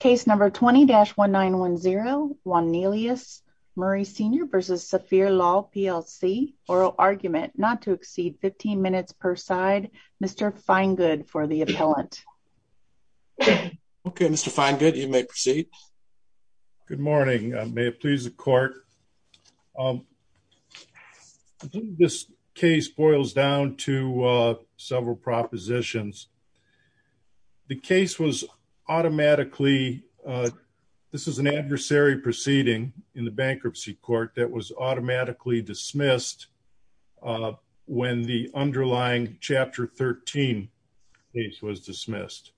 Case number 20-1910, Juannelious Murray Sr v. Safir Law PLC, Oral Argument, not to exceed 15 minutes per side, Mr. Feingood for the appellant. Okay, Mr. Feingood, you may proceed. Good morning. May it please the court. Um, this case boils down to, uh, several propositions. The case was automatically, uh, this is an adversary proceeding in the bankruptcy court that was automatically dismissed, uh, when the underlying chapter 13 case was dismissed.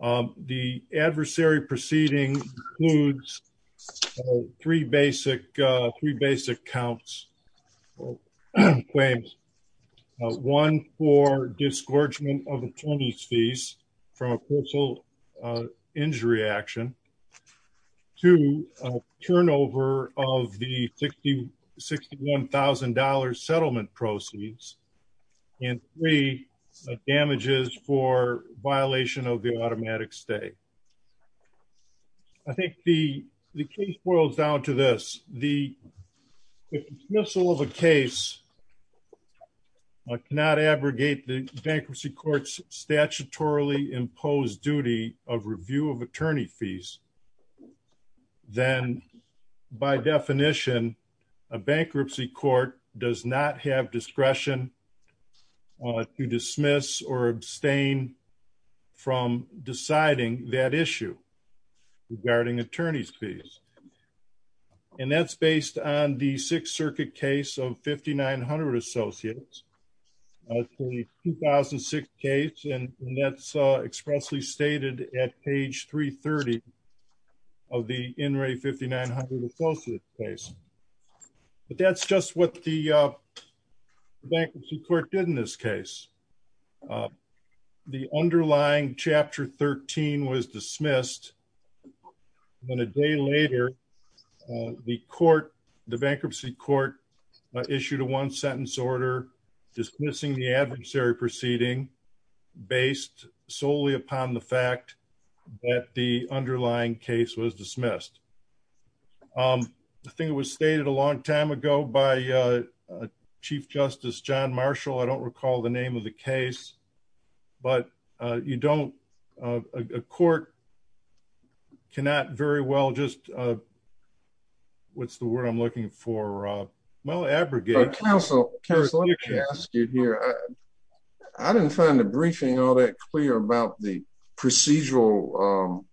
Um, the adversary proceeding includes three basic, uh, three basic counts. Well, claims one for disgorgement of attorney's fees from a personal, uh, injury action to a turnover of the 60, $61,000 settlement proceeds and three damages for violation of the automatic stay. I think the case boils down to this. The dismissal of a case, I cannot abrogate the bankruptcy court's statutorily imposed duty of review of attorney fees, then by definition, a bankruptcy court does not have discretion to dismiss or abstain from deciding that issue regarding attorney's fees. And that's based on the sixth circuit case of 5,900 associates, uh, 2006 case. And that's, uh, expressly stated at page three 30 of the in-ray 5,900 associates case, but that's just what the, uh, bankruptcy court did in this case. Uh, the underlying chapter 13 was dismissed. Then a day later, uh, the court, the bankruptcy court issued a one sentence order dismissing the adversary proceeding based solely upon the fact that the underlying case was dismissed. Um, I think it was stated a long time ago by, uh, uh, chief justice, John Marshall. I don't recall the name of the case, but, uh, you don't, uh, a court. Can that very well just, uh, what's the word I'm looking for? Uh, well, abrogate counsel here. I didn't find the briefing all that clear about the procedural, um,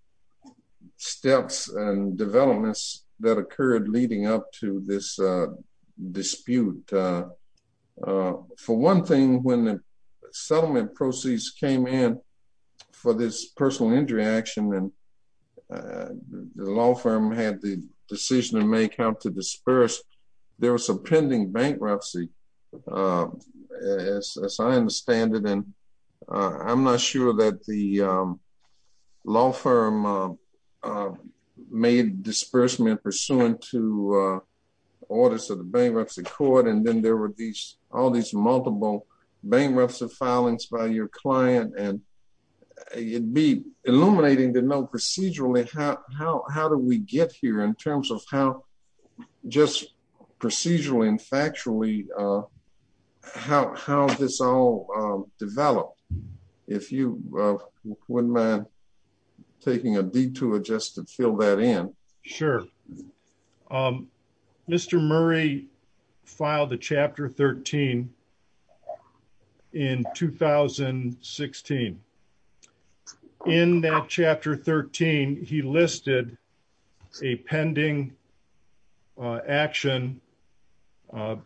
steps and developments that occurred leading up to this, uh, dispute. Uh, uh, for one thing, when the settlement proceeds came in for this personal injury action and, uh, the law firm had the decision to make how to disperse, there was some pending bankruptcy, uh, as, as I understand it. And, uh, I'm not sure that the, um, law firm, uh, uh, made disbursement pursuant to, uh, orders of the bankruptcy court. And then there were these, all these multiple bankruptcy filings by your client. And it'd be illuminating to know procedurally, how, how, how do we get here in terms of how just procedurally and factually, uh, how, how this all, um, developed, if you wouldn't mind taking a detour, just to fill that in. Sure. Um, Mr. Murray filed the chapter 13 in 2016. In that chapter 13, he listed a pending, uh, action, uh,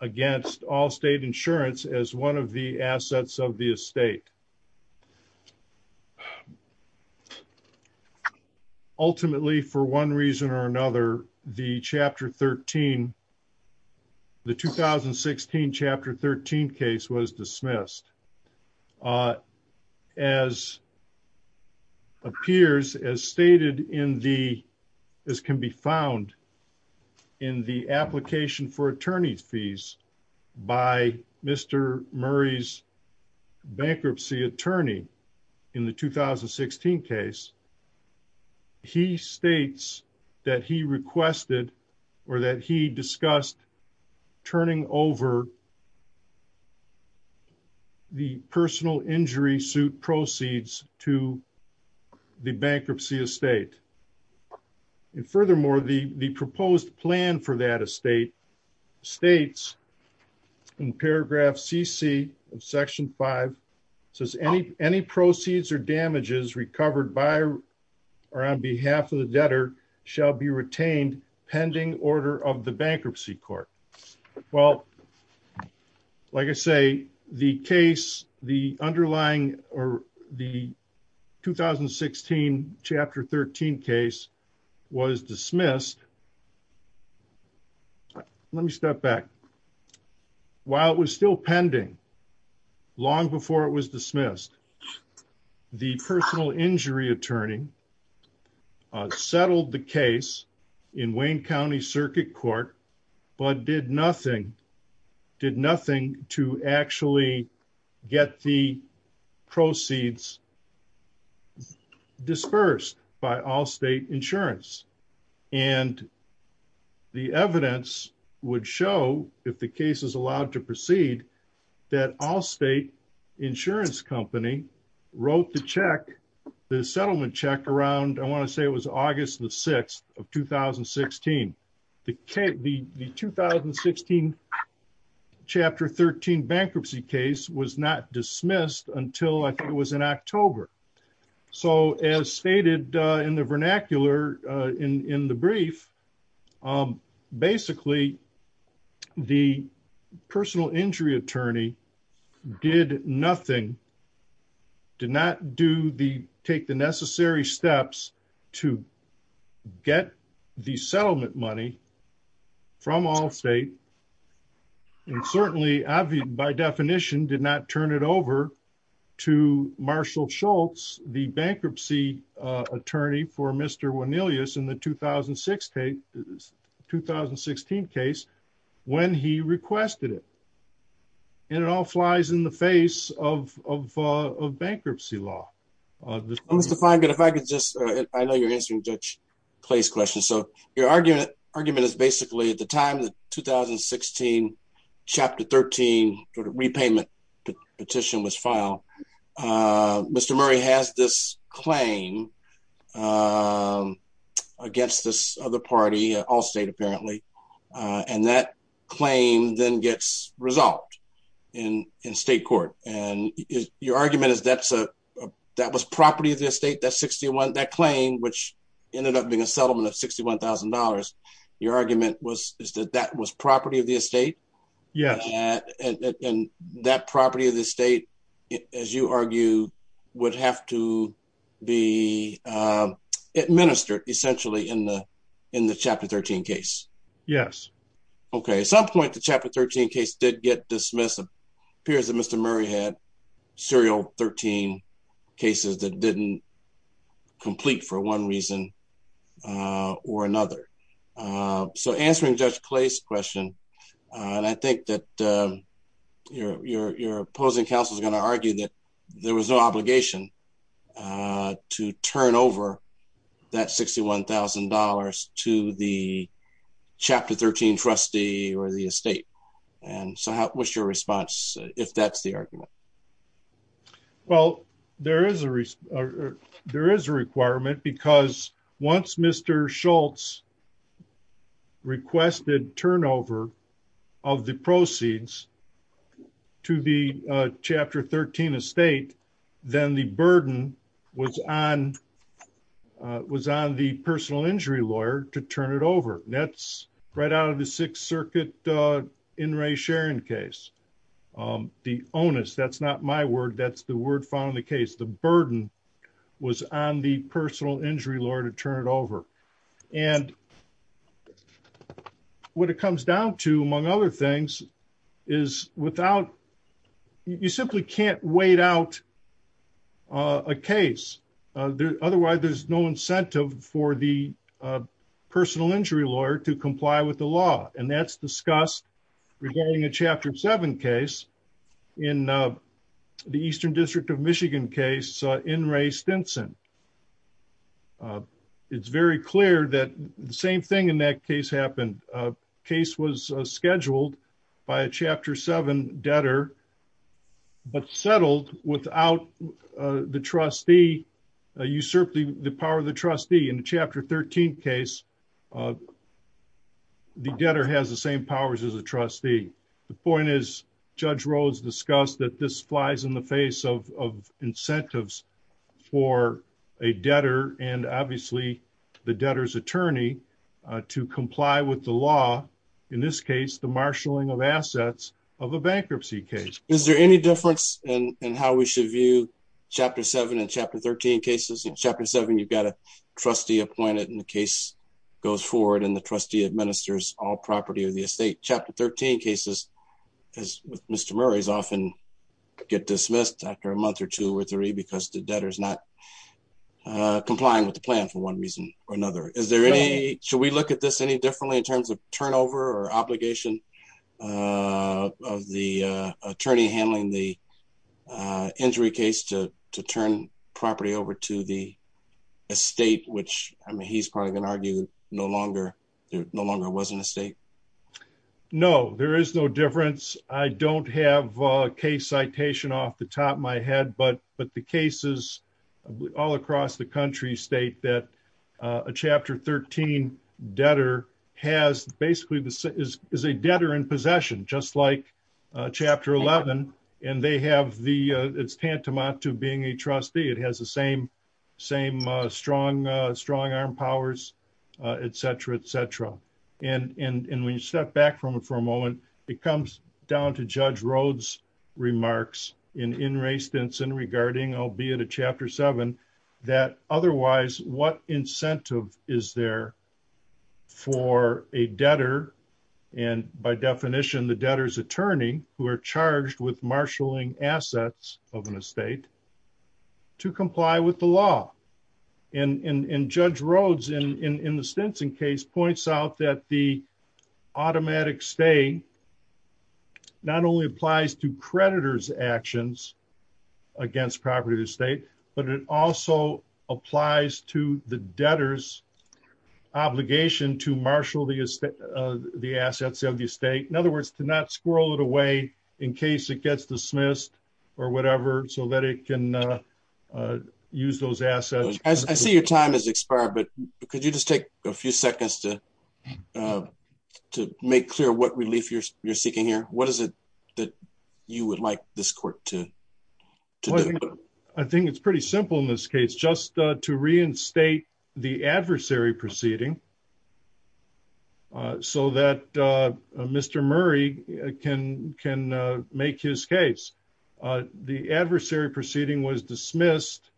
against all state insurance as one of the assets of the estate, ultimately for one reason or another, the chapter 13. The 2016 chapter 13 case was dismissed, uh, as appears as stated in the, as can be found in the application for attorney's fees by Mr. Murray's bankruptcy attorney in the 2016 case. He states that he requested or that he discussed turning over the personal injury suit proceeds to the bankruptcy estate. And furthermore, the, the proposed plan for that estate states in paragraph of section five says any, any proceeds or damages recovered by or on behalf of the debtor shall be retained pending order of the bankruptcy court. Well, like I say, the case, the underlying or the 2016 chapter 13 case was dismissed. Let me step back. While it was still pending long before it was dismissed, the personal injury attorney, uh, settled the case in Wayne County circuit court, but did nothing, did nothing to actually get the proceeds dispersed by all state insurance. And the evidence would show if the case is allowed to proceed that all state insurance company wrote the check, the settlement check around, I want to say it was August the 6th of 2016. The, the, the 2016 chapter 13 bankruptcy case was not dismissed until I think it was in October. So as stated in the vernacular, uh, in, in the brief, um, basically the personal injury attorney did nothing, did not do the, take the necessary steps to get the settlement money from all state. And certainly by definition did not turn it over to Marshall Schultz, the bankruptcy, uh, attorney for mr. When Elias in the 2006 case, 2016 case, when he requested it. And it all flies in the face of, of, uh, of bankruptcy law. Uh, Mr. Fine. Good. If I could just, uh, I know you're answering judge place question. Your argument argument is basically at the time that 2016 chapter 13 sort of repayment petition was filed. Uh, Mr. Murray has this claim, um, against this other party, all state apparently. Uh, and that claim then gets resolved in, in state court. And your argument is that's a, that was property of the estate. That 61, that claim, which ended up being a settlement of $61,000. Your argument was, is that that was property of the estate and that property of the state, as you argue would have to be, um, administered essentially in the, in the chapter 13 case. Yes. Okay. At some point, the chapter 13 case did get dismissed. Appears that Mr. Murray had serial 13 cases that didn't complete for one reason. Uh, or another, uh, so answering judge place question. Uh, and I think that, um, your, your, your opposing counsel is going to argue that there was no obligation, uh, to turn over that $61,000 to the chapter 13 trustee or the estate. And so how, what's your response if that's the argument? Well, there is a, there is a requirement because once Mr. Schultz requested turnover of the proceeds to the chapter 13 estate, then the burden was on, uh, was on the personal injury lawyer to turn it over. That's right out of the sixth circuit, uh, in Ray Sharon case. Um, the onus, that's not my word. That's the word found in the case. The burden was on the personal injury lawyer to turn it over. And what it comes down to among other things is without, you simply can't wait out, uh, a case. Uh, otherwise there's no incentive for the, uh, personal injury lawyer to comply with the law. And that's discussed regarding a chapter seven case in, uh, the Eastern district of Michigan case in Ray Stinson. Uh, it's very clear that the same thing in that case happened. A case was scheduled by a chapter seven debtor, but settled without, uh, the trustee, uh, usurped the power of the trustee in the chapter 13 case. Uh, the debtor has the same powers as a trustee. The point is judge Rhodes discussed that this flies in the face of, of incentives for a debtor and obviously the debtor's attorney, uh, to comply with the law in this case, the marshaling of assets of a bankruptcy case. Is there any difference in how we should view chapter seven and chapter 13 cases in chapter seven, you've got a trustee appointed and the case goes forward and the trustee administers all property of the estate chapter 13 cases as Mr. Murray's often get dismissed after a month or two or three, because the debtor is not, uh, complying with the plan for one reason or another. Is there any, should we look at this any differently in terms of turnover or obligation, uh, of the, uh, attorney handling the, uh, injury case to, to turn property over to the estate, which I mean, he's probably going to argue. No longer, no longer wasn't a state. No, there is no difference. I don't have a case citation off the top of my head, but, but the cases all across the country state that, uh, a chapter 13 debtor has basically is, is a debtor in possession, just like. Uh, chapter 11 and they have the, uh, it's tantamount to being a trustee. It has the same, same, uh, strong, uh, strong arm powers, uh, et cetera, et cetera, and, and, and when you step back from it for a moment, it comes down to that otherwise, what incentive is there for a debtor and by definition, the debtors attorney who are charged with marshaling assets of an estate to comply with the law and, and, and judge Rhodes in, in, in the Stinson case points out that the automatic stay not only applies to creditors actions against property estate, but it also applies to the debtors obligation to marshal the, is that, uh, the assets of the state? In other words, to not squirrel it away in case it gets dismissed or whatever, so that it can, uh, uh, use those assets. I see your time has expired, but could you just take a few seconds to, uh, to make clear what relief you're, you're seeking here, what is it that you would like this court to. I think it's pretty simple in this case, just to reinstate the adversary proceeding, uh, so that, uh, uh, Mr. Murray can, can, uh, make his case. Uh, the adversary proceeding was dismissed,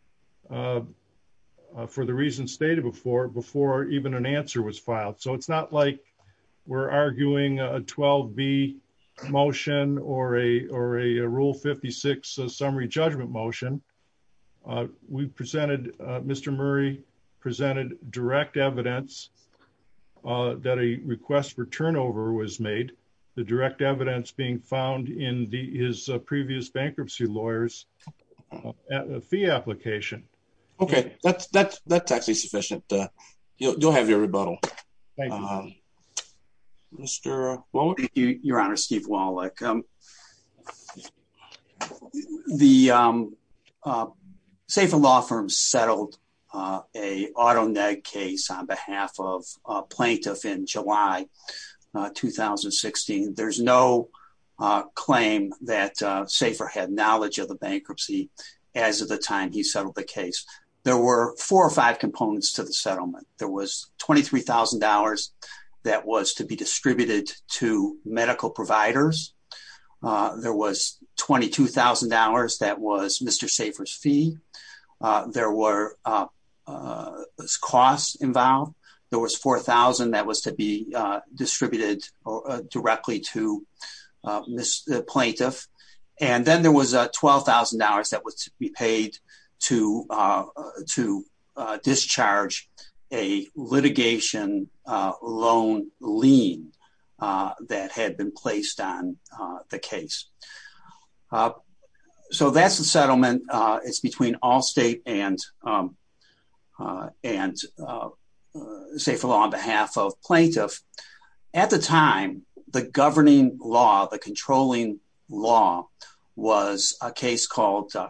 uh, uh, for the reason stated before, before even an answer was filed. So it's not like we're arguing a 12 B motion or a, or a rule 56 summary judgment motion, uh, we've presented, uh, Mr. Murray presented direct evidence. Uh, that a request for turnover was made the direct evidence being found in the, his previous bankruptcy lawyers, uh, fee application. Okay. That's that's, that's actually sufficient. Uh, you'll, you'll have your rebuttal. Mr. Your honor, Steve Wallach. Um, the, um, uh, Safer law firms settled, uh, a auto neg case on behalf of a plaintiff in July, uh, 2016. There's no, uh, claim that, uh, Safer had knowledge of the bankruptcy. As of the time he settled the case, there were four or five components to the settlement. There was $23,000 that was to be distributed to medical providers. Uh, there was $22,000. That was Mr. Safer's fee. Uh, there were, uh, uh, costs involved. There was 4,000 that was to be, uh, distributed, uh, directly to, uh, Mr the plaintiff, and then there was a $12,000 that was to be paid to, uh, to, uh, discharge a litigation, uh, loan lien, uh, that had been placed on, uh, the case. Uh, so that's the settlement. Uh, it's between all state and, um, uh, and, uh, uh, Safer law on behalf of plaintiff. At the time, the governing law, the controlling law was a case called, uh,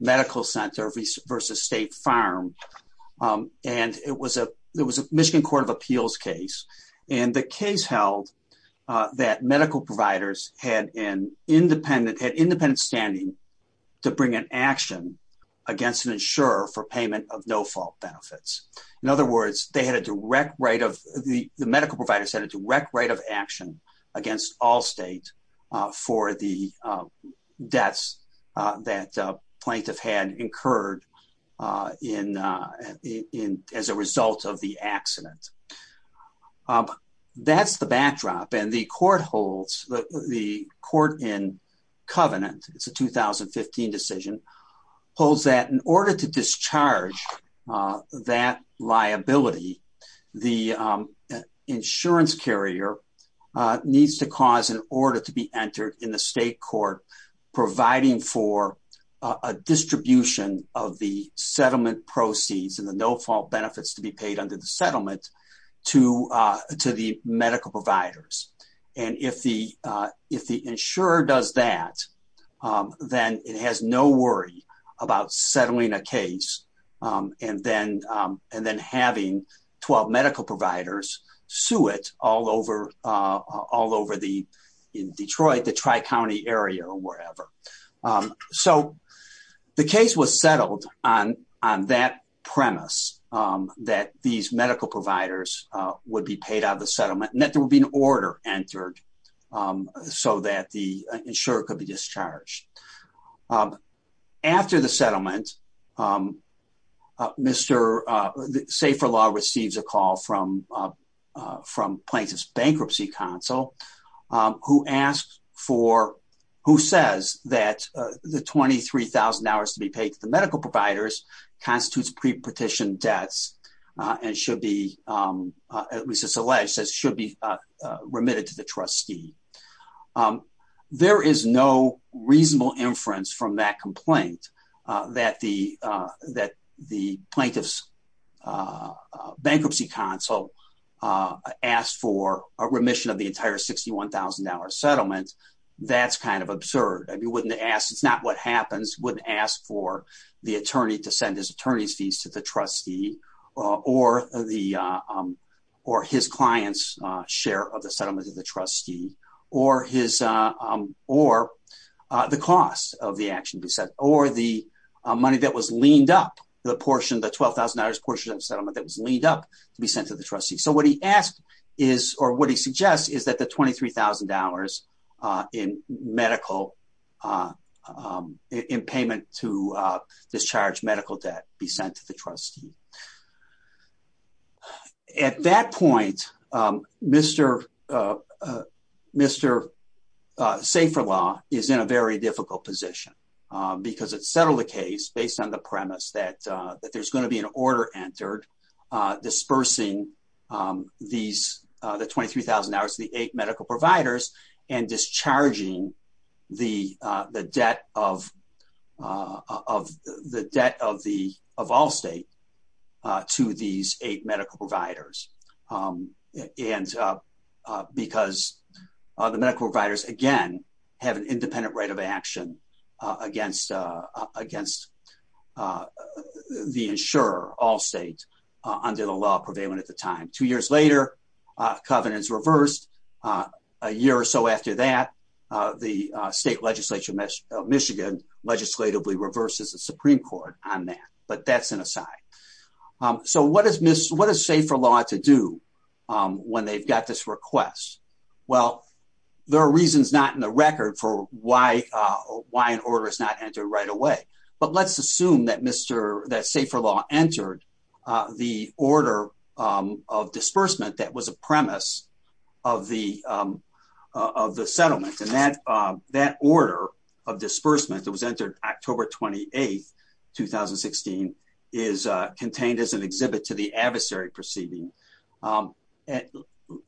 medical center versus state farm. Um, and it was a, it was a Michigan court of appeals case. And the case held, uh, that medical providers had an independent, had independent standing to bring an action against an insurer for payment of no fault benefits. In other words, they had a direct right of the, the medical providers had a direct right of action against all state, uh, for the, uh, deaths, uh, that, uh, plaintiff had incurred, uh, in, uh, in, as a result of the accident. Um, that's the backdrop and the court holds the court in covenant. It's a 2015 decision holds that in order to discharge, uh, that liability, the, uh, insurance carrier, uh, needs to cause an order to be entered in the state court, providing for a distribution of the settlement proceeds and the no fault benefits to be paid under the settlement to, uh, to the medical providers. And if the, uh, if the insurer does that, um, then it has no worry about settling a suit all over, uh, all over the, in Detroit, the tri-county area or wherever. Um, so the case was settled on, on that premise, um, that these medical providers, uh, would be paid out of the settlement and that there would be an order entered, um, so that the insurer could be discharged. Um, after the settlement, um, uh, Mr, uh, Safer Law receives a call from, uh, uh, from plaintiff's bankruptcy counsel, um, who asks for, who says that, uh, the 23,000 hours to be paid to the medical providers constitutes pre-petition debts, uh, and should be, um, uh, at least it's alleged says should be, uh, uh, remitted to the that complaint, uh, that the, uh, that the plaintiff's, uh, uh, bankruptcy counsel, uh, asked for a remission of the entire $61,000 settlement. That's kind of absurd. I mean, wouldn't ask, it's not what happens, wouldn't ask for the attorney to send his attorney's fees to the trustee, uh, or the, um, or his client's, uh, share of the settlement of the trustee or his, uh, um, or, uh, the cost of the action to be set or the, uh, money that was leaned up the portion, the $12,000 portion of the settlement that was leaned up to be sent to the trustee. So what he asked is, or what he suggests is that the $23,000, uh, in medical, uh, um, in payment to, uh, discharge medical debt be sent to the trustee. Uh, at that point, um, Mr, uh, uh, Mr. Uh, safer law is in a very difficult position, uh, because it's settled a case based on the premise that, uh, that there's going to be an order entered, uh, dispersing, um, these, uh, the 23,000 hours, the eight medical providers and discharging the, uh, the debt of, uh, of the debt of the, of all state. Uh, to these eight medical providers. Um, and, uh, uh, because, uh, the medical providers again have an independent right of action, uh, against, uh, uh, against, uh, uh, the insurer all state, uh, under the law prevailing at the time, two years later, uh, covenants reversed, uh, a year or so after that, uh, the, uh, state legislature of Michigan legislatively reverses the Supreme court on that. But that's an aside. Um, so what does miss, what does safer law to do? Um, when they've got this request? Well, there are reasons not in the record for why, uh, why an order is not entered right away. But let's assume that Mr. that safer law entered, uh, the order, um, of disbursement. That was a premise of the, um, uh, of the settlement and that, um, that order of disbursement that was entered October 28th, 2016 is, uh, contained as an exhibit to the adversary proceeding. Um, and,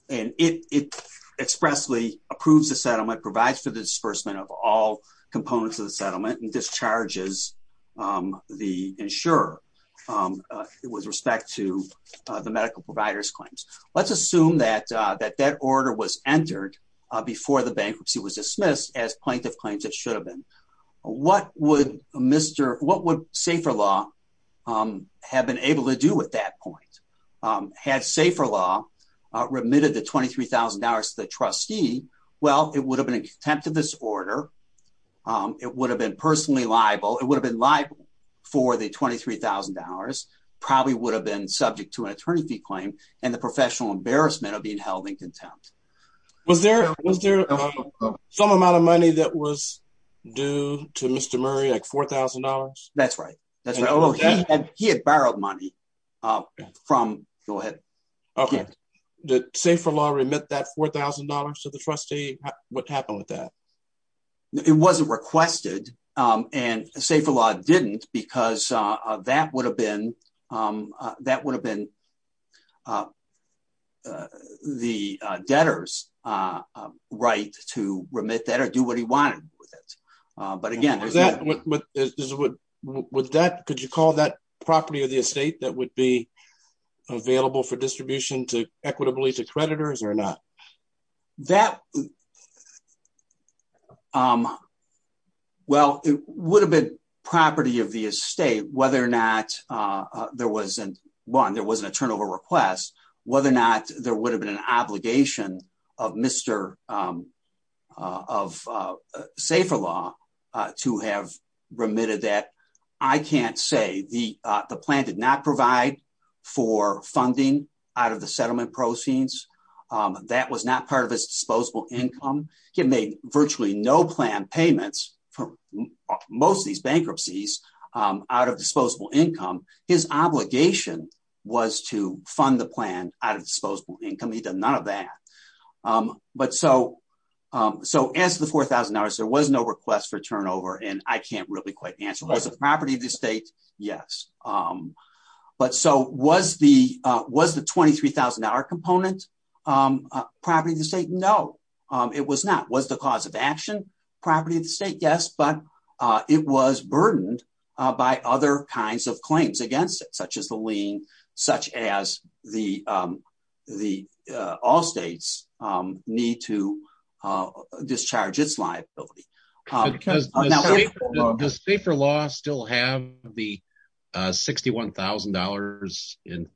and it, it expressly approves the settlement provides for the disbursement of all components of the settlement and discharges, um, the insurer, um, uh, with respect to, uh, the medical providers claims, let's assume that, uh, that that order was entered, uh, before the bankruptcy was dismissed as plaintiff claims. It should have been, what would Mr. What would safer law, um, have been able to do with that point? Um, had safer law, uh, remitted the $23,000 to the trustee. Well, it would have been a contempt of this order. Um, it would have been personally liable. It would have been liable for the $23,000 probably would have been subject to an attorney fee claim and the professional embarrassment of being held in contempt. Was there, was there some amount of money that was due to Mr. Murray, like $4,000? That's right. That's right. Oh, he had, he had borrowed money, uh, from go ahead. Okay. The safer law remit that $4,000 to the trustee. What happened with that? It wasn't requested. Um, and safer law didn't because, uh, that would have been, um, uh, that would have been the debtor's, uh, right to remit that or do what he wanted with it. Uh, but again, is that what, what would that, could you call that property of the estate that would be available for distribution to equitably to creditors or not that, um, well, it would have been property of the estate, whether or not, uh, there wasn't one, there wasn't a turnover request, whether or not there would have been an obligation of Mr, um, uh, of, uh, safer law, uh, to have remitted that. I can't say the, uh, the plan did not provide for funding out of the settlement proceeds, um, that was not part of his disposable income can make virtually no plan payments for most of these bankruptcies, um, out of disposable income, his obligation was to fund the plan out of disposable income. He does none of that. Um, but so, um, so as the 4,000 hours, there was no request for turnover and I can't really quite answer. It was a property of the state. Yes. Um, but so was the, uh, was the 23,000 hour component, um, uh, property of the state, no, um, it was not, was the cause of action property of the state. But, uh, it was burdened, uh, by other kinds of claims against it, such as the lien, such as the, um, the, uh, all states, um, need to, uh, discharge its liability, uh, because the state for law still have the, uh, $61,000 in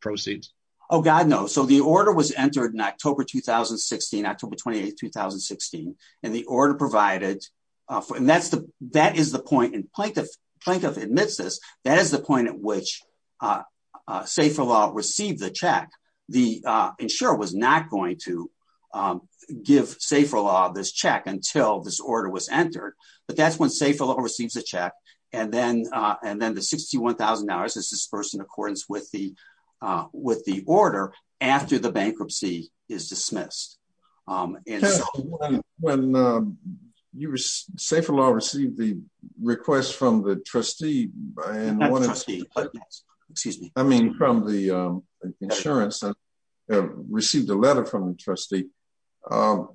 proceeds. Oh God, no. So the order was entered in October, 2016, October 28th, 2016. And the order provided, uh, and that's the, that is the point in plaintiff plaintiff admits this, that is the point at which, uh, uh, safer law received the check, the, uh, insurer was not going to, um, give safer law this check until this order was entered. But that's when safer law receives a check. And then, uh, and then the $61,000 is dispersed in accordance with the, uh, with the order after the bankruptcy is dismissed. Um, and when, uh, you were safe for law received the request from the trustee, excuse me, I mean, from the, um, insurance and received a letter from the trustee. Um,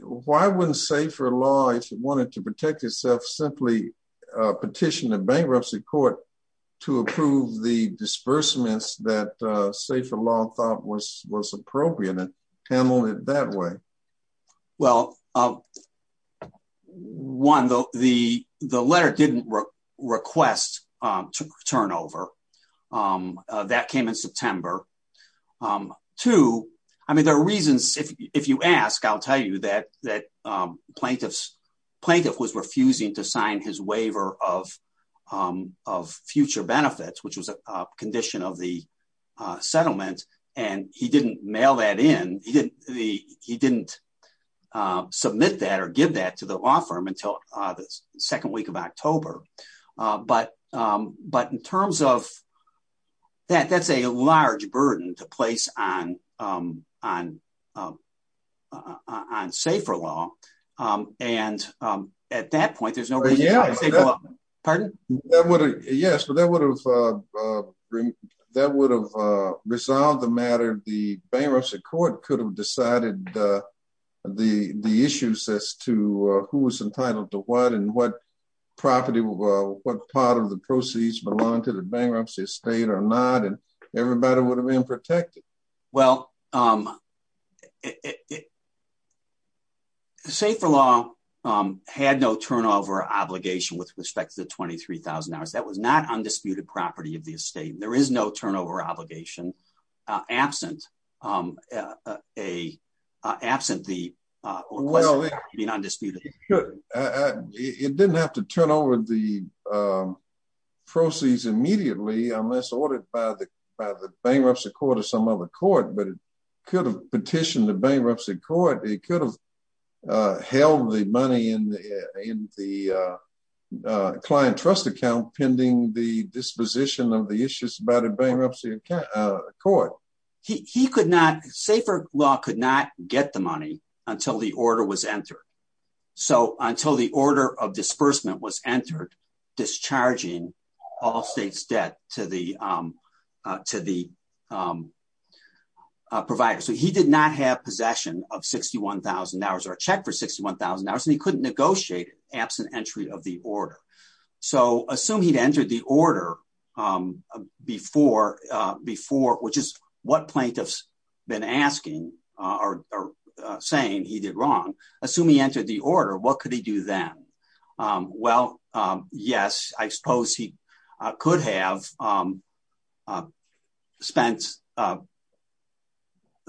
why wouldn't say for law, if it wanted to protect itself, simply, uh, petition the bankruptcy court to approve the disbursements that, uh, safer law thought was, was appropriate. Pamela that way. Well, um, one, the, the, the letter didn't request, um, turnover, um, uh, that came in September, um, two, I mean, there are reasons if you ask, I'll tell you that, that, um, plaintiffs plaintiff was refusing to sign his waiver of, um, of future benefits, which was a condition of the, uh, settlement. And he didn't mail that in. He didn't, he didn't, uh, submit that or give that to the law firm until the second week of October. Uh, but, um, but in terms of that, that's a large burden to place on, um, on, um, uh, uh, on safer law. Um, and, um, at that point, there's no, pardon? Yes. But that would have, uh, uh, that would have, uh, resolved the matter. The bankruptcy court could have decided, uh, the, the issues as to, uh, who was entitled to what and what property, what part of the proceeds belong to the bankruptcy estate or not, and everybody would have been protected. Well, um, say for long, um, had no turnover obligation with respect to the 23,000 hours, that was not undisputed property of the estate. And there is no turnover obligation, uh, absent, um, uh, uh, uh, absent the, uh, undisputed, it didn't have to turn over the, um, proceeds immediately unless ordered by the, by the bankruptcy court or some other court, but it could have petitioned the bankruptcy court, it could have. Uh, held the money in the, in the, uh, uh, client trust account, pending the disposition of the issues about a bankruptcy court, he could not say for law could not get the money until the order was entered. So until the order of disbursement was entered, discharging all states debt to the, um, uh, to the, um, uh, provider. So he did not have possession of 61,000 hours or a check for 61,000 hours. And he couldn't negotiate it absent entry of the order. So assume he'd entered the order, um, before, uh, before, which is what plaintiffs been asking, uh, or, uh, saying he did wrong, assume he entered the order, what could he do then? Um, well, um, yes, I suppose he could have, um, uh, spent, uh,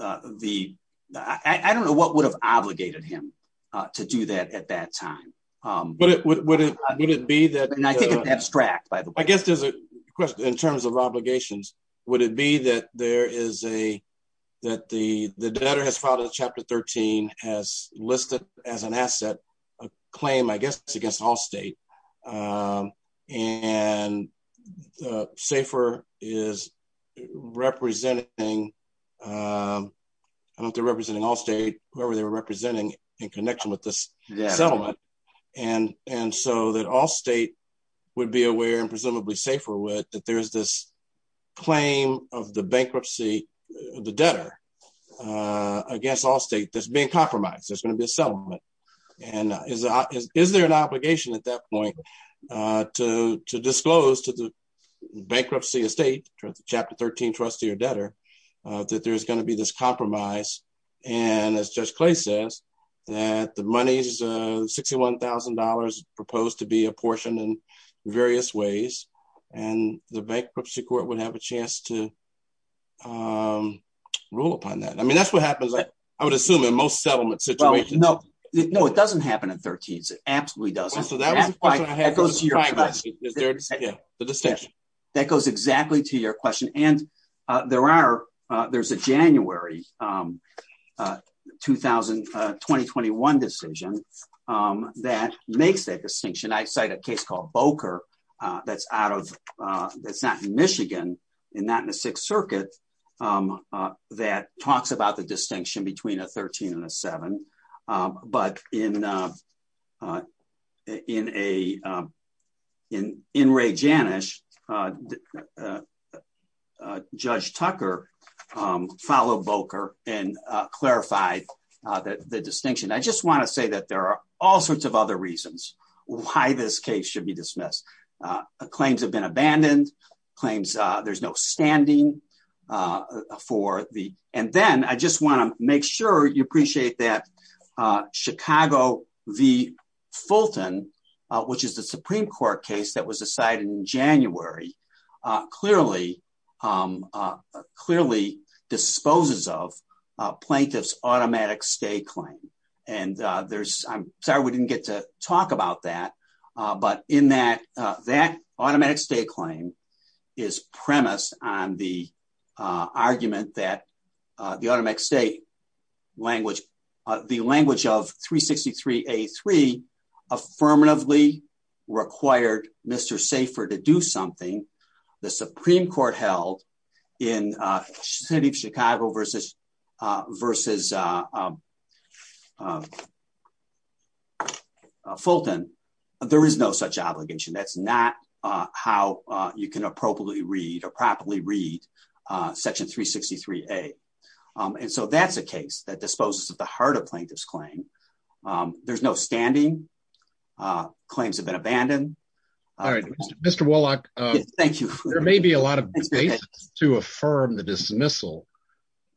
uh, the, I don't know what would have obligated him, uh, to do that at that time. Um, would it, would it, would it be that abstract, by the way, I guess there's a question in terms of obligations. Would it be that there is a, that the, the debtor has filed a chapter 13 has listed as an asset, a claim, I guess, it's against all state. Um, and, uh, safer is representing, um, I don't, they're representing all state, whoever they were representing in connection with this settlement. And, and so that all state would be aware and presumably safer with that. There's this claim of the bankruptcy, the debtor, uh, against all state that's being compromised, there's going to be a settlement and is, uh, is, is there an obligation at that point, uh, to, to disclose to the bankruptcy estate chapter 13, trustee or debtor, uh, that there's going to be this compromise and as judge Clay says that the money's, uh, $61,000 proposed to be apportioned in various ways and the bankruptcy court would have a chance to, um, rule upon that. I mean, that's what happens. I would assume in most settlement situation. No, no, it doesn't happen in thirteens. It absolutely doesn't. That goes exactly to your question. And, uh, there are, uh, there's a January, um, uh, 2000, uh, 2021 decision. Um, that makes that distinction. I cite a case called Boker. Uh, that's out of, uh, that's not in Michigan and not in the sixth circuit. Um, uh, that talks about the distinction between a 13 and a seven. Um, but in, uh, uh, in a, um, in, in Ray Janish, uh, uh, uh, uh, judge Tucker, um, follow Boker and, uh, clarified, uh, that the distinction, I just want to say that there are all sorts of other reasons why this case should be dismissed. Uh, claims have been abandoned claims. Uh, there's no standing, uh, for the, and then I just want to make sure you appreciate that, uh, Chicago V Fulton, uh, which is the Supreme court case that was decided in January. Uh, clearly, um, uh, clearly disposes of, uh, plaintiff's automatic stay claim. And, uh, there's, I'm sorry, we didn't get to talk about that. Uh, but in that, uh, that automatic state claim is premise on the, uh, argument that, uh, the automatic state language, uh, the language of three 63, a three affirmatively required Mr. Safer to do something the Supreme court held in, uh, city of Chicago versus. Uh, versus, uh, um, uh, uh, Fulton, there is no such obligation. That's not, uh, how, uh, you can appropriately read or properly read, uh, section three 63, a, um, and so that's a case that disposes of the heart of plaintiff's claim. Um, there's no standing, uh, claims have been abandoned. All right, Mr. Wallach, thank you. There may be a lot of space to affirm the dismissal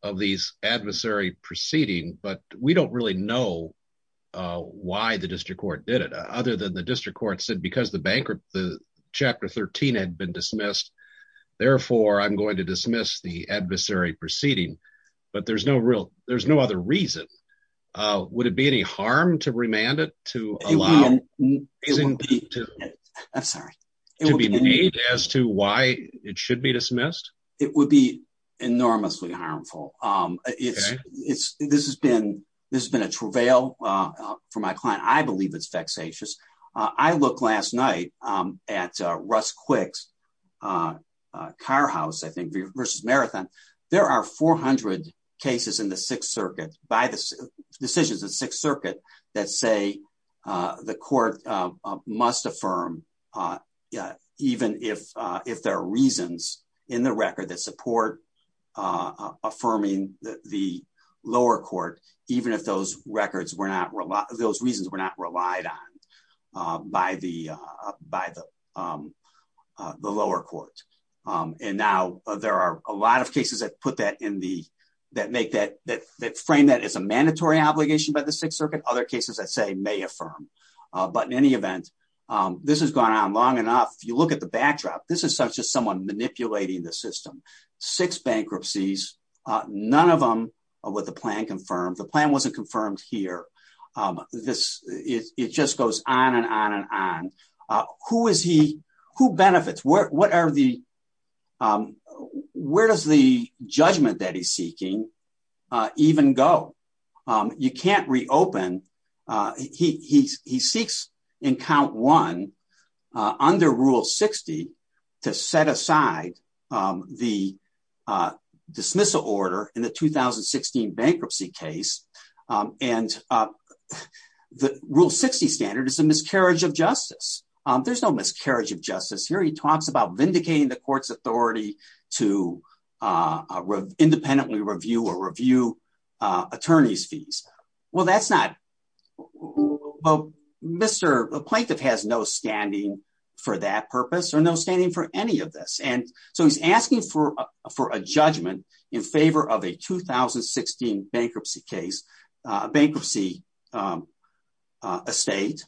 of these adversary proceeding, but we don't really know, uh, why the district court did it other than the district court said, because the bankrupt, the chapter 13 had been dismissed. Therefore I'm going to dismiss the adversary proceeding, but there's no real, there's no other reason. Uh, would it be any harm to remand it to allow to be made as to why it should be dismissed? It would be enormously harmful. Um, it's, it's, this has been, this has been a travail, uh, for my client. I believe it's vexatious. Uh, I look last night, um, at, uh, Russ quicks, uh, uh, car house, I think versus marathon. There are 400 cases in the sixth circuit by the decisions of sixth that say, uh, the court, uh, must affirm, uh, uh, even if, uh, if there are reasons in the record that support, uh, affirming the lower court, even if those records were not, those reasons were not relied on, uh, by the, uh, by the, um, uh, the lower court. Um, and now there are a lot of cases that put that in the, that make that, that, that frame that as a mandatory obligation by the sixth circuit. Other cases that say may affirm. Uh, but in any event, um, this has gone on long enough. You look at the backdrop. This is such as someone manipulating the system, six bankruptcies. Uh, none of them are what the plan confirmed. The plan wasn't confirmed here. Um, this is, it just goes on and on and on. Uh, who is he who benefits? What, what are the. Um, where does the judgment that he's seeking, uh, even go? Um, you can't reopen. Uh, he, he, he seeks in count one, uh, under rule 60 to set aside, um, the, uh, dismissal order in the 2016 bankruptcy case. Um, and, uh, the rule 60 standard is a miscarriage of justice. Um, there's no miscarriage of justice here. He talks about vindicating the court's authority to, uh, independently review or review, uh, attorney's fees. Well, that's not, well, Mr. Plaintiff has no standing for that purpose or no standing for any of this. And so he's asking for, uh, for a judgment in favor of a 2016 bankruptcy case, uh, bankruptcy, um, uh, estate,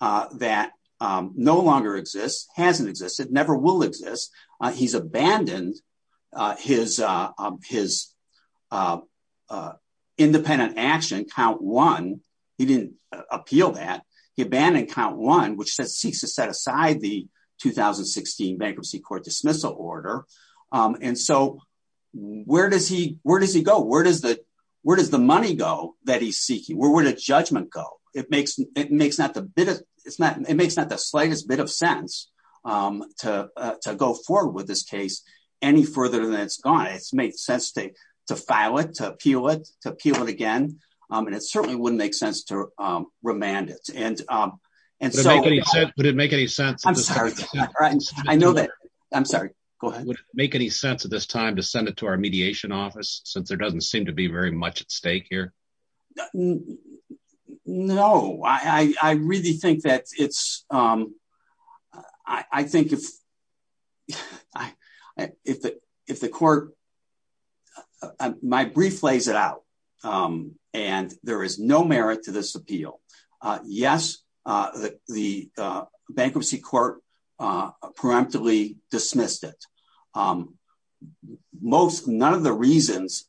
uh, that, um, no longer exists. Hasn't existed. Never will exist. Uh, he's abandoned, uh, his, uh, his, uh, uh, independent action count one. He didn't appeal that he abandoned count one, which says seeks to set aside the 2016 bankruptcy court dismissal order. Um, and so where does he, where does he go? Where does the, where does the money go that he's seeking? Where would a judgment go? It makes, it makes not the bit of it's not, it makes not the slightest bit of sense, um, to, uh, to go forward with this case any further than it's gone. It's made sense to, to file it, to appeal it, to appeal it again. Um, and it certainly wouldn't make sense to, um, remand it. And, um, and so would it make any sense? I know that I'm sorry, go ahead. Make any sense at this time to send it to our mediation office, since there doesn't seem to be very much at stake here. No, I, I really think that it's, um, I think if I, if the, if the court. My brief lays it out. Um, and there is no merit to this appeal. Uh, yes. Uh, the, the, uh, bankruptcy court, uh, preemptively dismissed it. Um, most, none of the reasons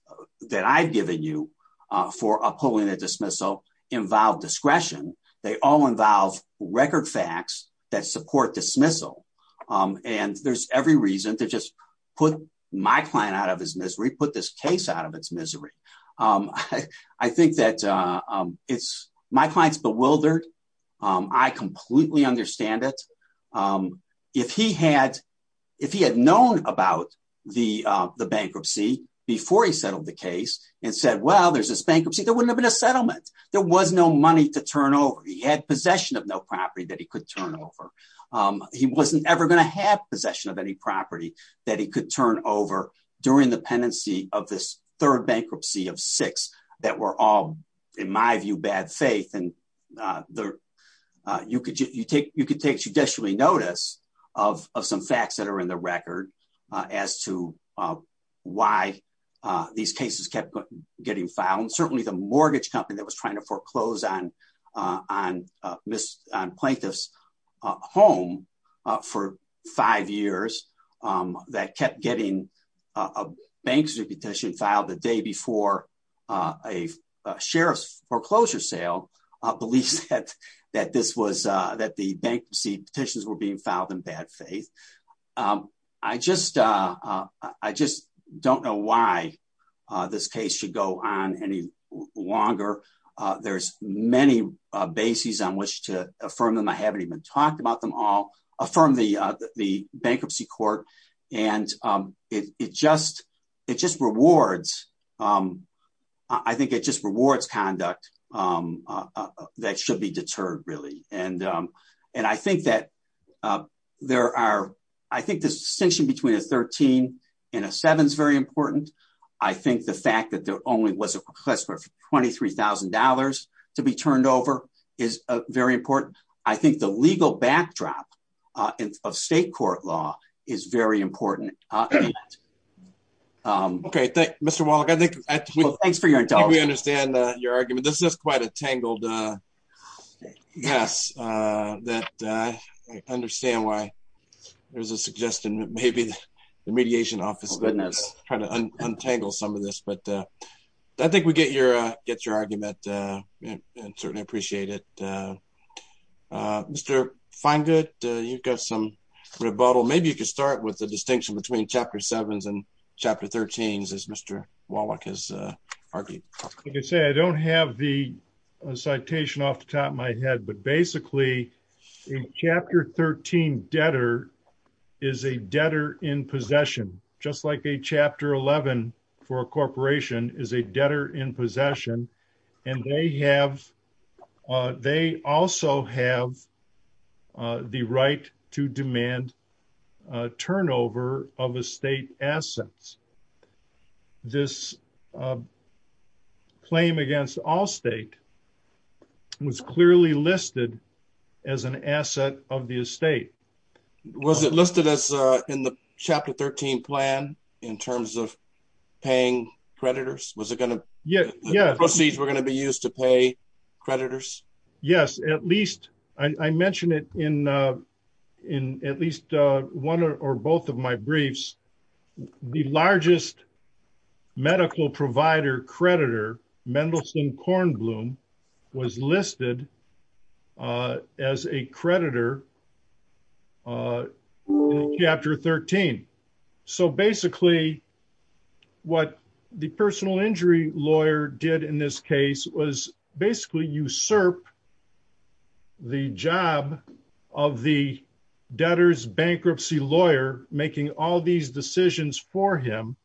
that I've given you, uh, for a pulling a dismissal involved discretion. They all involve record facts that support dismissal. Um, and there's every reason to just put my client out of his misery, put this case out of its misery. Um, I, I think that, uh, um, it's my client's bewildered. Um, I completely understand it. Um, if he had, if he had known about the, uh, the bankruptcy before he settled the case and said, well, there's this bankruptcy that wouldn't have been a settlement. There was no money to turn over. He had possession of no property that he could turn over. Um, he wasn't ever going to have possession of any property that he could turn over during the pendency of this third bankruptcy of six that were all in my view, bad faith. And, uh, the, uh, you could just, you take, you could take judicially notice of, of some facts that are in the record, uh, as to, uh, why, uh, these cases kept getting found. Certainly the mortgage company that was trying to foreclose on, uh, on, uh, miss on plaintiffs, uh, home, uh, for five years, um, that kept getting, uh, a bank's repetition filed the day before, uh, a sheriff's foreclosure sale, uh, beliefs that, that this was, uh, that the bankruptcy petitions were being filed in bad faith. Um, I just, uh, uh, I just don't know why, uh, this case should go on any longer. Uh, there's many, uh, bases on which to affirm them. I haven't even talked about them all affirm the, uh, the bankruptcy court. And, um, it, it just, it just rewards. Um, I think it just rewards conduct, um, uh, that should be deterred really. And, um, and I think that, uh, there are, I think the distinction between a 13 and a seven is very important. I think the fact that there only was a request for $23,000 to be turned over is very important. I think the legal backdrop, uh, of state court law is very important. Um, okay. Thank Mr. Wallach. I think we understand your argument. This is quite a tangled, uh, yes. Uh, that, uh, I understand why there's a suggestion that maybe the mediation office trying to untangle some of this, but, uh, I think we get your, uh, get your argument, uh, and certainly appreciate it, uh, uh, Mr. find good, uh, you've got some rebuttal. Maybe you could start with the distinction between chapter sevens and chapter 13, as Mr. Wallach has, uh, argued. I can say, I don't have the citation off the top of my head, but basically chapter 13 debtor is a debtor in possession, just like a chapter 11 for a corporation is a debtor in possession. And they have, uh, they also have, uh, the right to demand, uh, turnover of a state assets. This, uh, claim against all state was clearly listed as an asset of the estate. Was it listed as, uh, in the chapter 13 plan in terms of paying creditors? Was it going to? Yeah, yeah. Proceeds were going to be used to pay creditors. Yes. At least I mentioned it in, uh, in at least, uh, one or both of my briefs, the largest medical provider creditor, Mendelsohn Kornblum was listed, uh, as a creditor, uh, chapter 13. So basically what the personal injury lawyer did in this case was basically usurp the job of the debtors bankruptcy lawyer, making all these decisions for him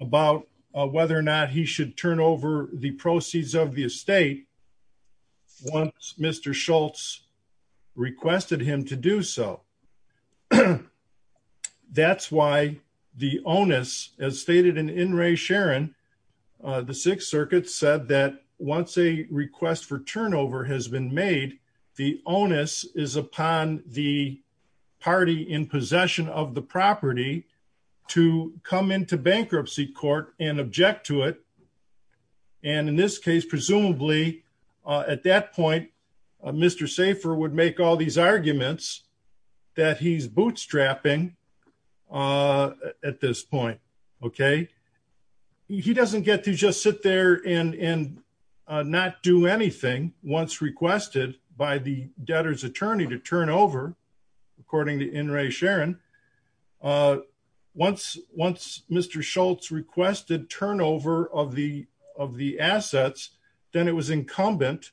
about whether or not he should turn over the proceeds of the estate. Once Mr. Schultz requested him to do so. That's why the onus as stated in in Ray Sharon, uh, the sixth circuit said that once a request for turnover has been made, the onus is upon the party in possession of the property to come into bankruptcy court and object to it. And in this case, presumably, uh, at that point, uh, Mr. Safer would make all these arguments that he's bootstrapping, uh, at this point. Okay. He doesn't get to just sit there and, and, uh, not do anything once requested by the debtors attorney to turn over. According to in Ray Sharon, uh, once, once Mr. Schultz requested turnover of the, of the assets, then it was incumbent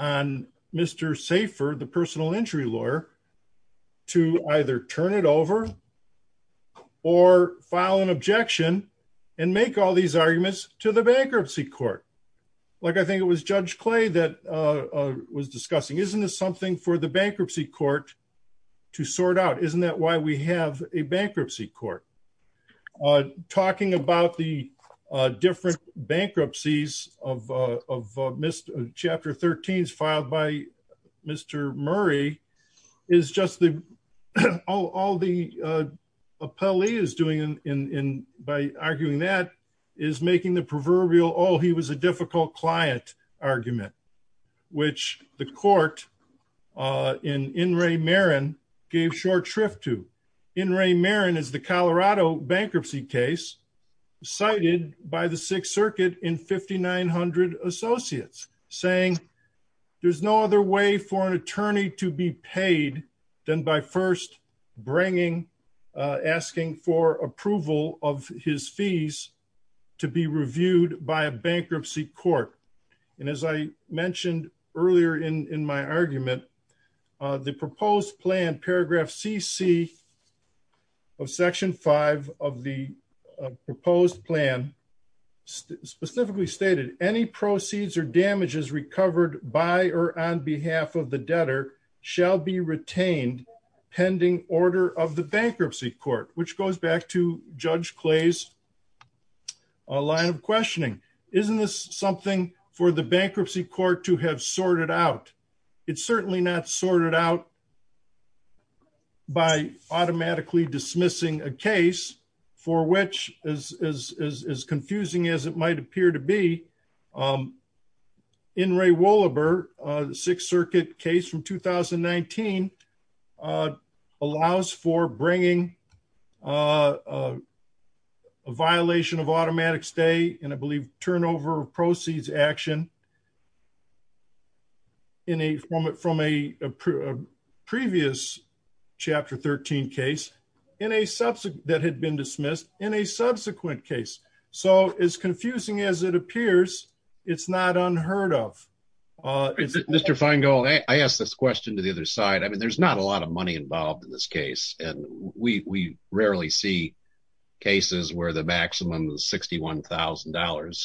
on Mr. Safer, the personal injury lawyer. To either turn it over or file an objection and make all these arguments to the bankruptcy court. Like, I think it was judge clay that, uh, was discussing, isn't this something for the bankruptcy court to sort out? Isn't that why we have a bankruptcy court? Uh, talking about the, uh, different bankruptcies of, uh, of, uh, Mr. chapter 13 is filed by Mr. Murray is just the, all the, uh, uh, Pelley is doing in, in, in, by arguing that is making the proverbial, Oh, he was a difficult client argument, which the court, uh, in, in Ray Marin gave short shrift to in Ray Marin is the Colorado bankruptcy case cited by the sixth circuit in 5,900 associates saying. There's no other way for an attorney to be paid than by first bringing, uh, asking for approval of his fees to be reviewed by a bankruptcy court. And as I mentioned earlier in, in my argument, uh, the proposed plan, paragraph CC of section five of the proposed plan specifically stated any proceeds or damages recovered by, or on behalf of the debtor shall be retained pending order of the bankruptcy court, which goes back to judge clays, a line of questioning, isn't this something for the bankruptcy court to have sorted out? It's certainly not sorted out by automatically dismissing a case for which is, is, is, is confusing as it might appear to be, um, in Ray Wollaber, uh, the sixth circuit case from 2019, uh, allows for bringing, uh, uh, a violation of automatic stay and I believe turnover proceeds action. In a, from a, from a, uh, previous chapter 13 case in a subset that had been dismissed in a subsequent case. So it's confusing as it appears. It's not unheard of, uh, is it Mr. Feingold? I asked this question to the other side. I mean, there's not a lot of money involved in this case, and we, we rarely see cases where the maximum is $61,000.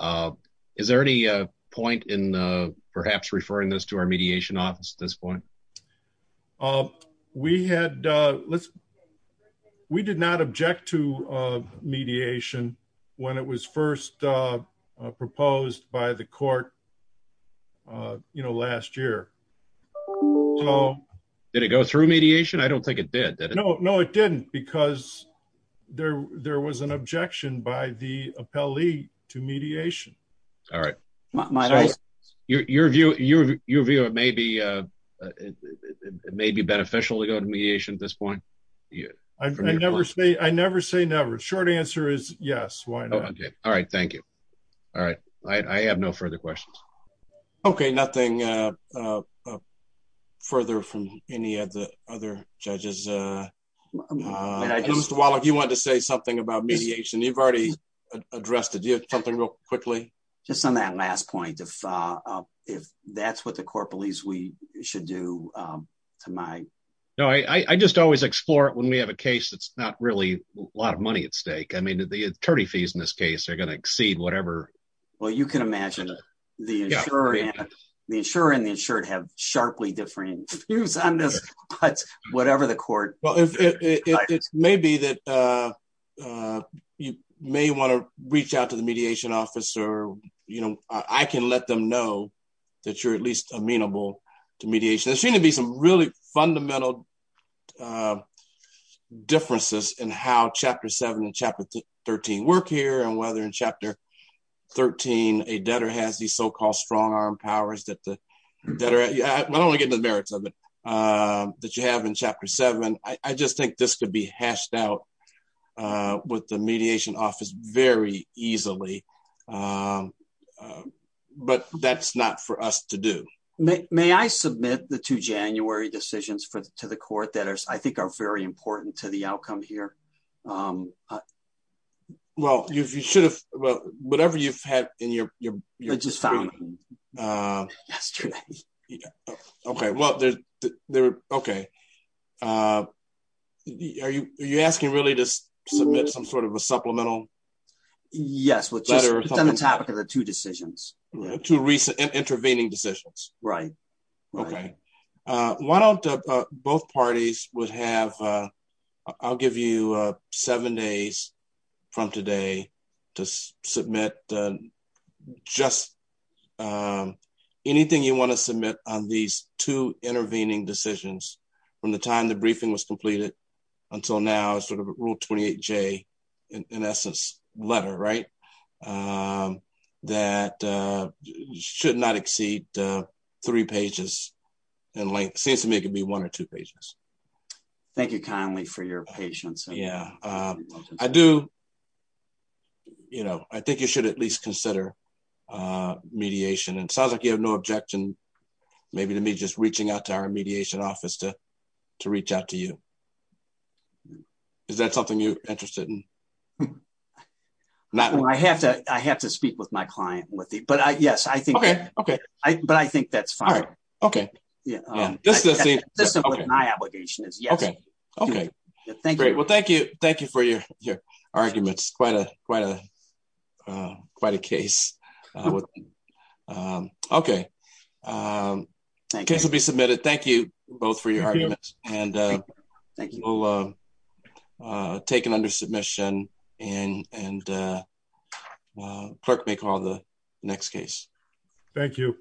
Um, is there any, uh, point in, uh, perhaps referring this to our mediation office at this point? Um, we had, uh, let's, we did not object to, uh, mediation when it was first, uh, uh, proposed by the court, uh, you know, last year. Did it go through mediation? I don't think it did. No, no, it didn't because there, there was an objection by the to mediation. All right. Your, your view, your, your view of maybe, uh, it may be beneficial to go to mediation at this point. I never say, I never say never short answer is yes. Why not? All right. Thank you. All right. I have no further questions. Okay. Nothing, uh, uh, further from any of the other judges, uh, Mr. Wallach, you wanted to say something about mediation. You've already addressed it. Do you have something real quickly? Just on that last point, if, uh, uh, if that's what the court believes we should do, um, to my. No, I, I just always explore it when we have a case, that's not really a lot of money at stake. I mean, the attorney fees in this case, they're going to exceed whatever. Well, you can imagine the, the insurer and the insured have sharply different views on this, whatever the court, it may be that, uh, uh, you may want to reach out to the mediation office or, you know, I can let them know that you're at least amenable to mediation and seem to be some really fundamental, uh, differences in how chapter seven and chapter 13 work here and whether in chapter 13, a debtor has these so-called strong arm powers that the debtor, I don't want to get into the merits of it. Um, that you have in chapter seven. I just think this could be hashed out, uh, with the mediation office very easily. Um, uh, but that's not for us to do. May I submit the two January decisions for, to the court that are, I think are very important to the outcome here. Um, uh, well, you should have, whatever you've had in your, uh, okay. Well, they're, they're okay. Uh, are you, are you asking really to submit some sort of a supplemental? Yes. We'll just on the topic of the two decisions, two recent intervening decisions. Right. Okay. Uh, why don't, uh, both parties would have, uh, I'll give you, uh, seven days from today to submit, uh, just, um, anything you want to submit on these two intervening decisions from the time the briefing was completed until now, sort of rule 28 J in essence letter, right. Um, that, uh, should not exceed, uh, three pages and length seems to me it could be one or two pages. Thank you kindly for your patience. Yeah. Um, I do, you know, I think you should at least consider, uh, mediation and it sounds like you have no objection. Maybe to me, just reaching out to our mediation office to, to reach out to you. Is that something you're interested in? Not when I have to, I have to speak with my client with it, but I, yes, I think, but I think that's fine. Okay. Yeah. Um, this is my obligation is yes. Okay. Thank you. Well, thank you. Thank you for your, your arguments. Quite a, quite a, uh, quite a case, uh, with, um, okay. Um, can somebody submit it? Thank you both for your arguments and, uh, thank you, uh, uh, taken under submission and, and, uh, uh, clerk may call the next case. Thank you.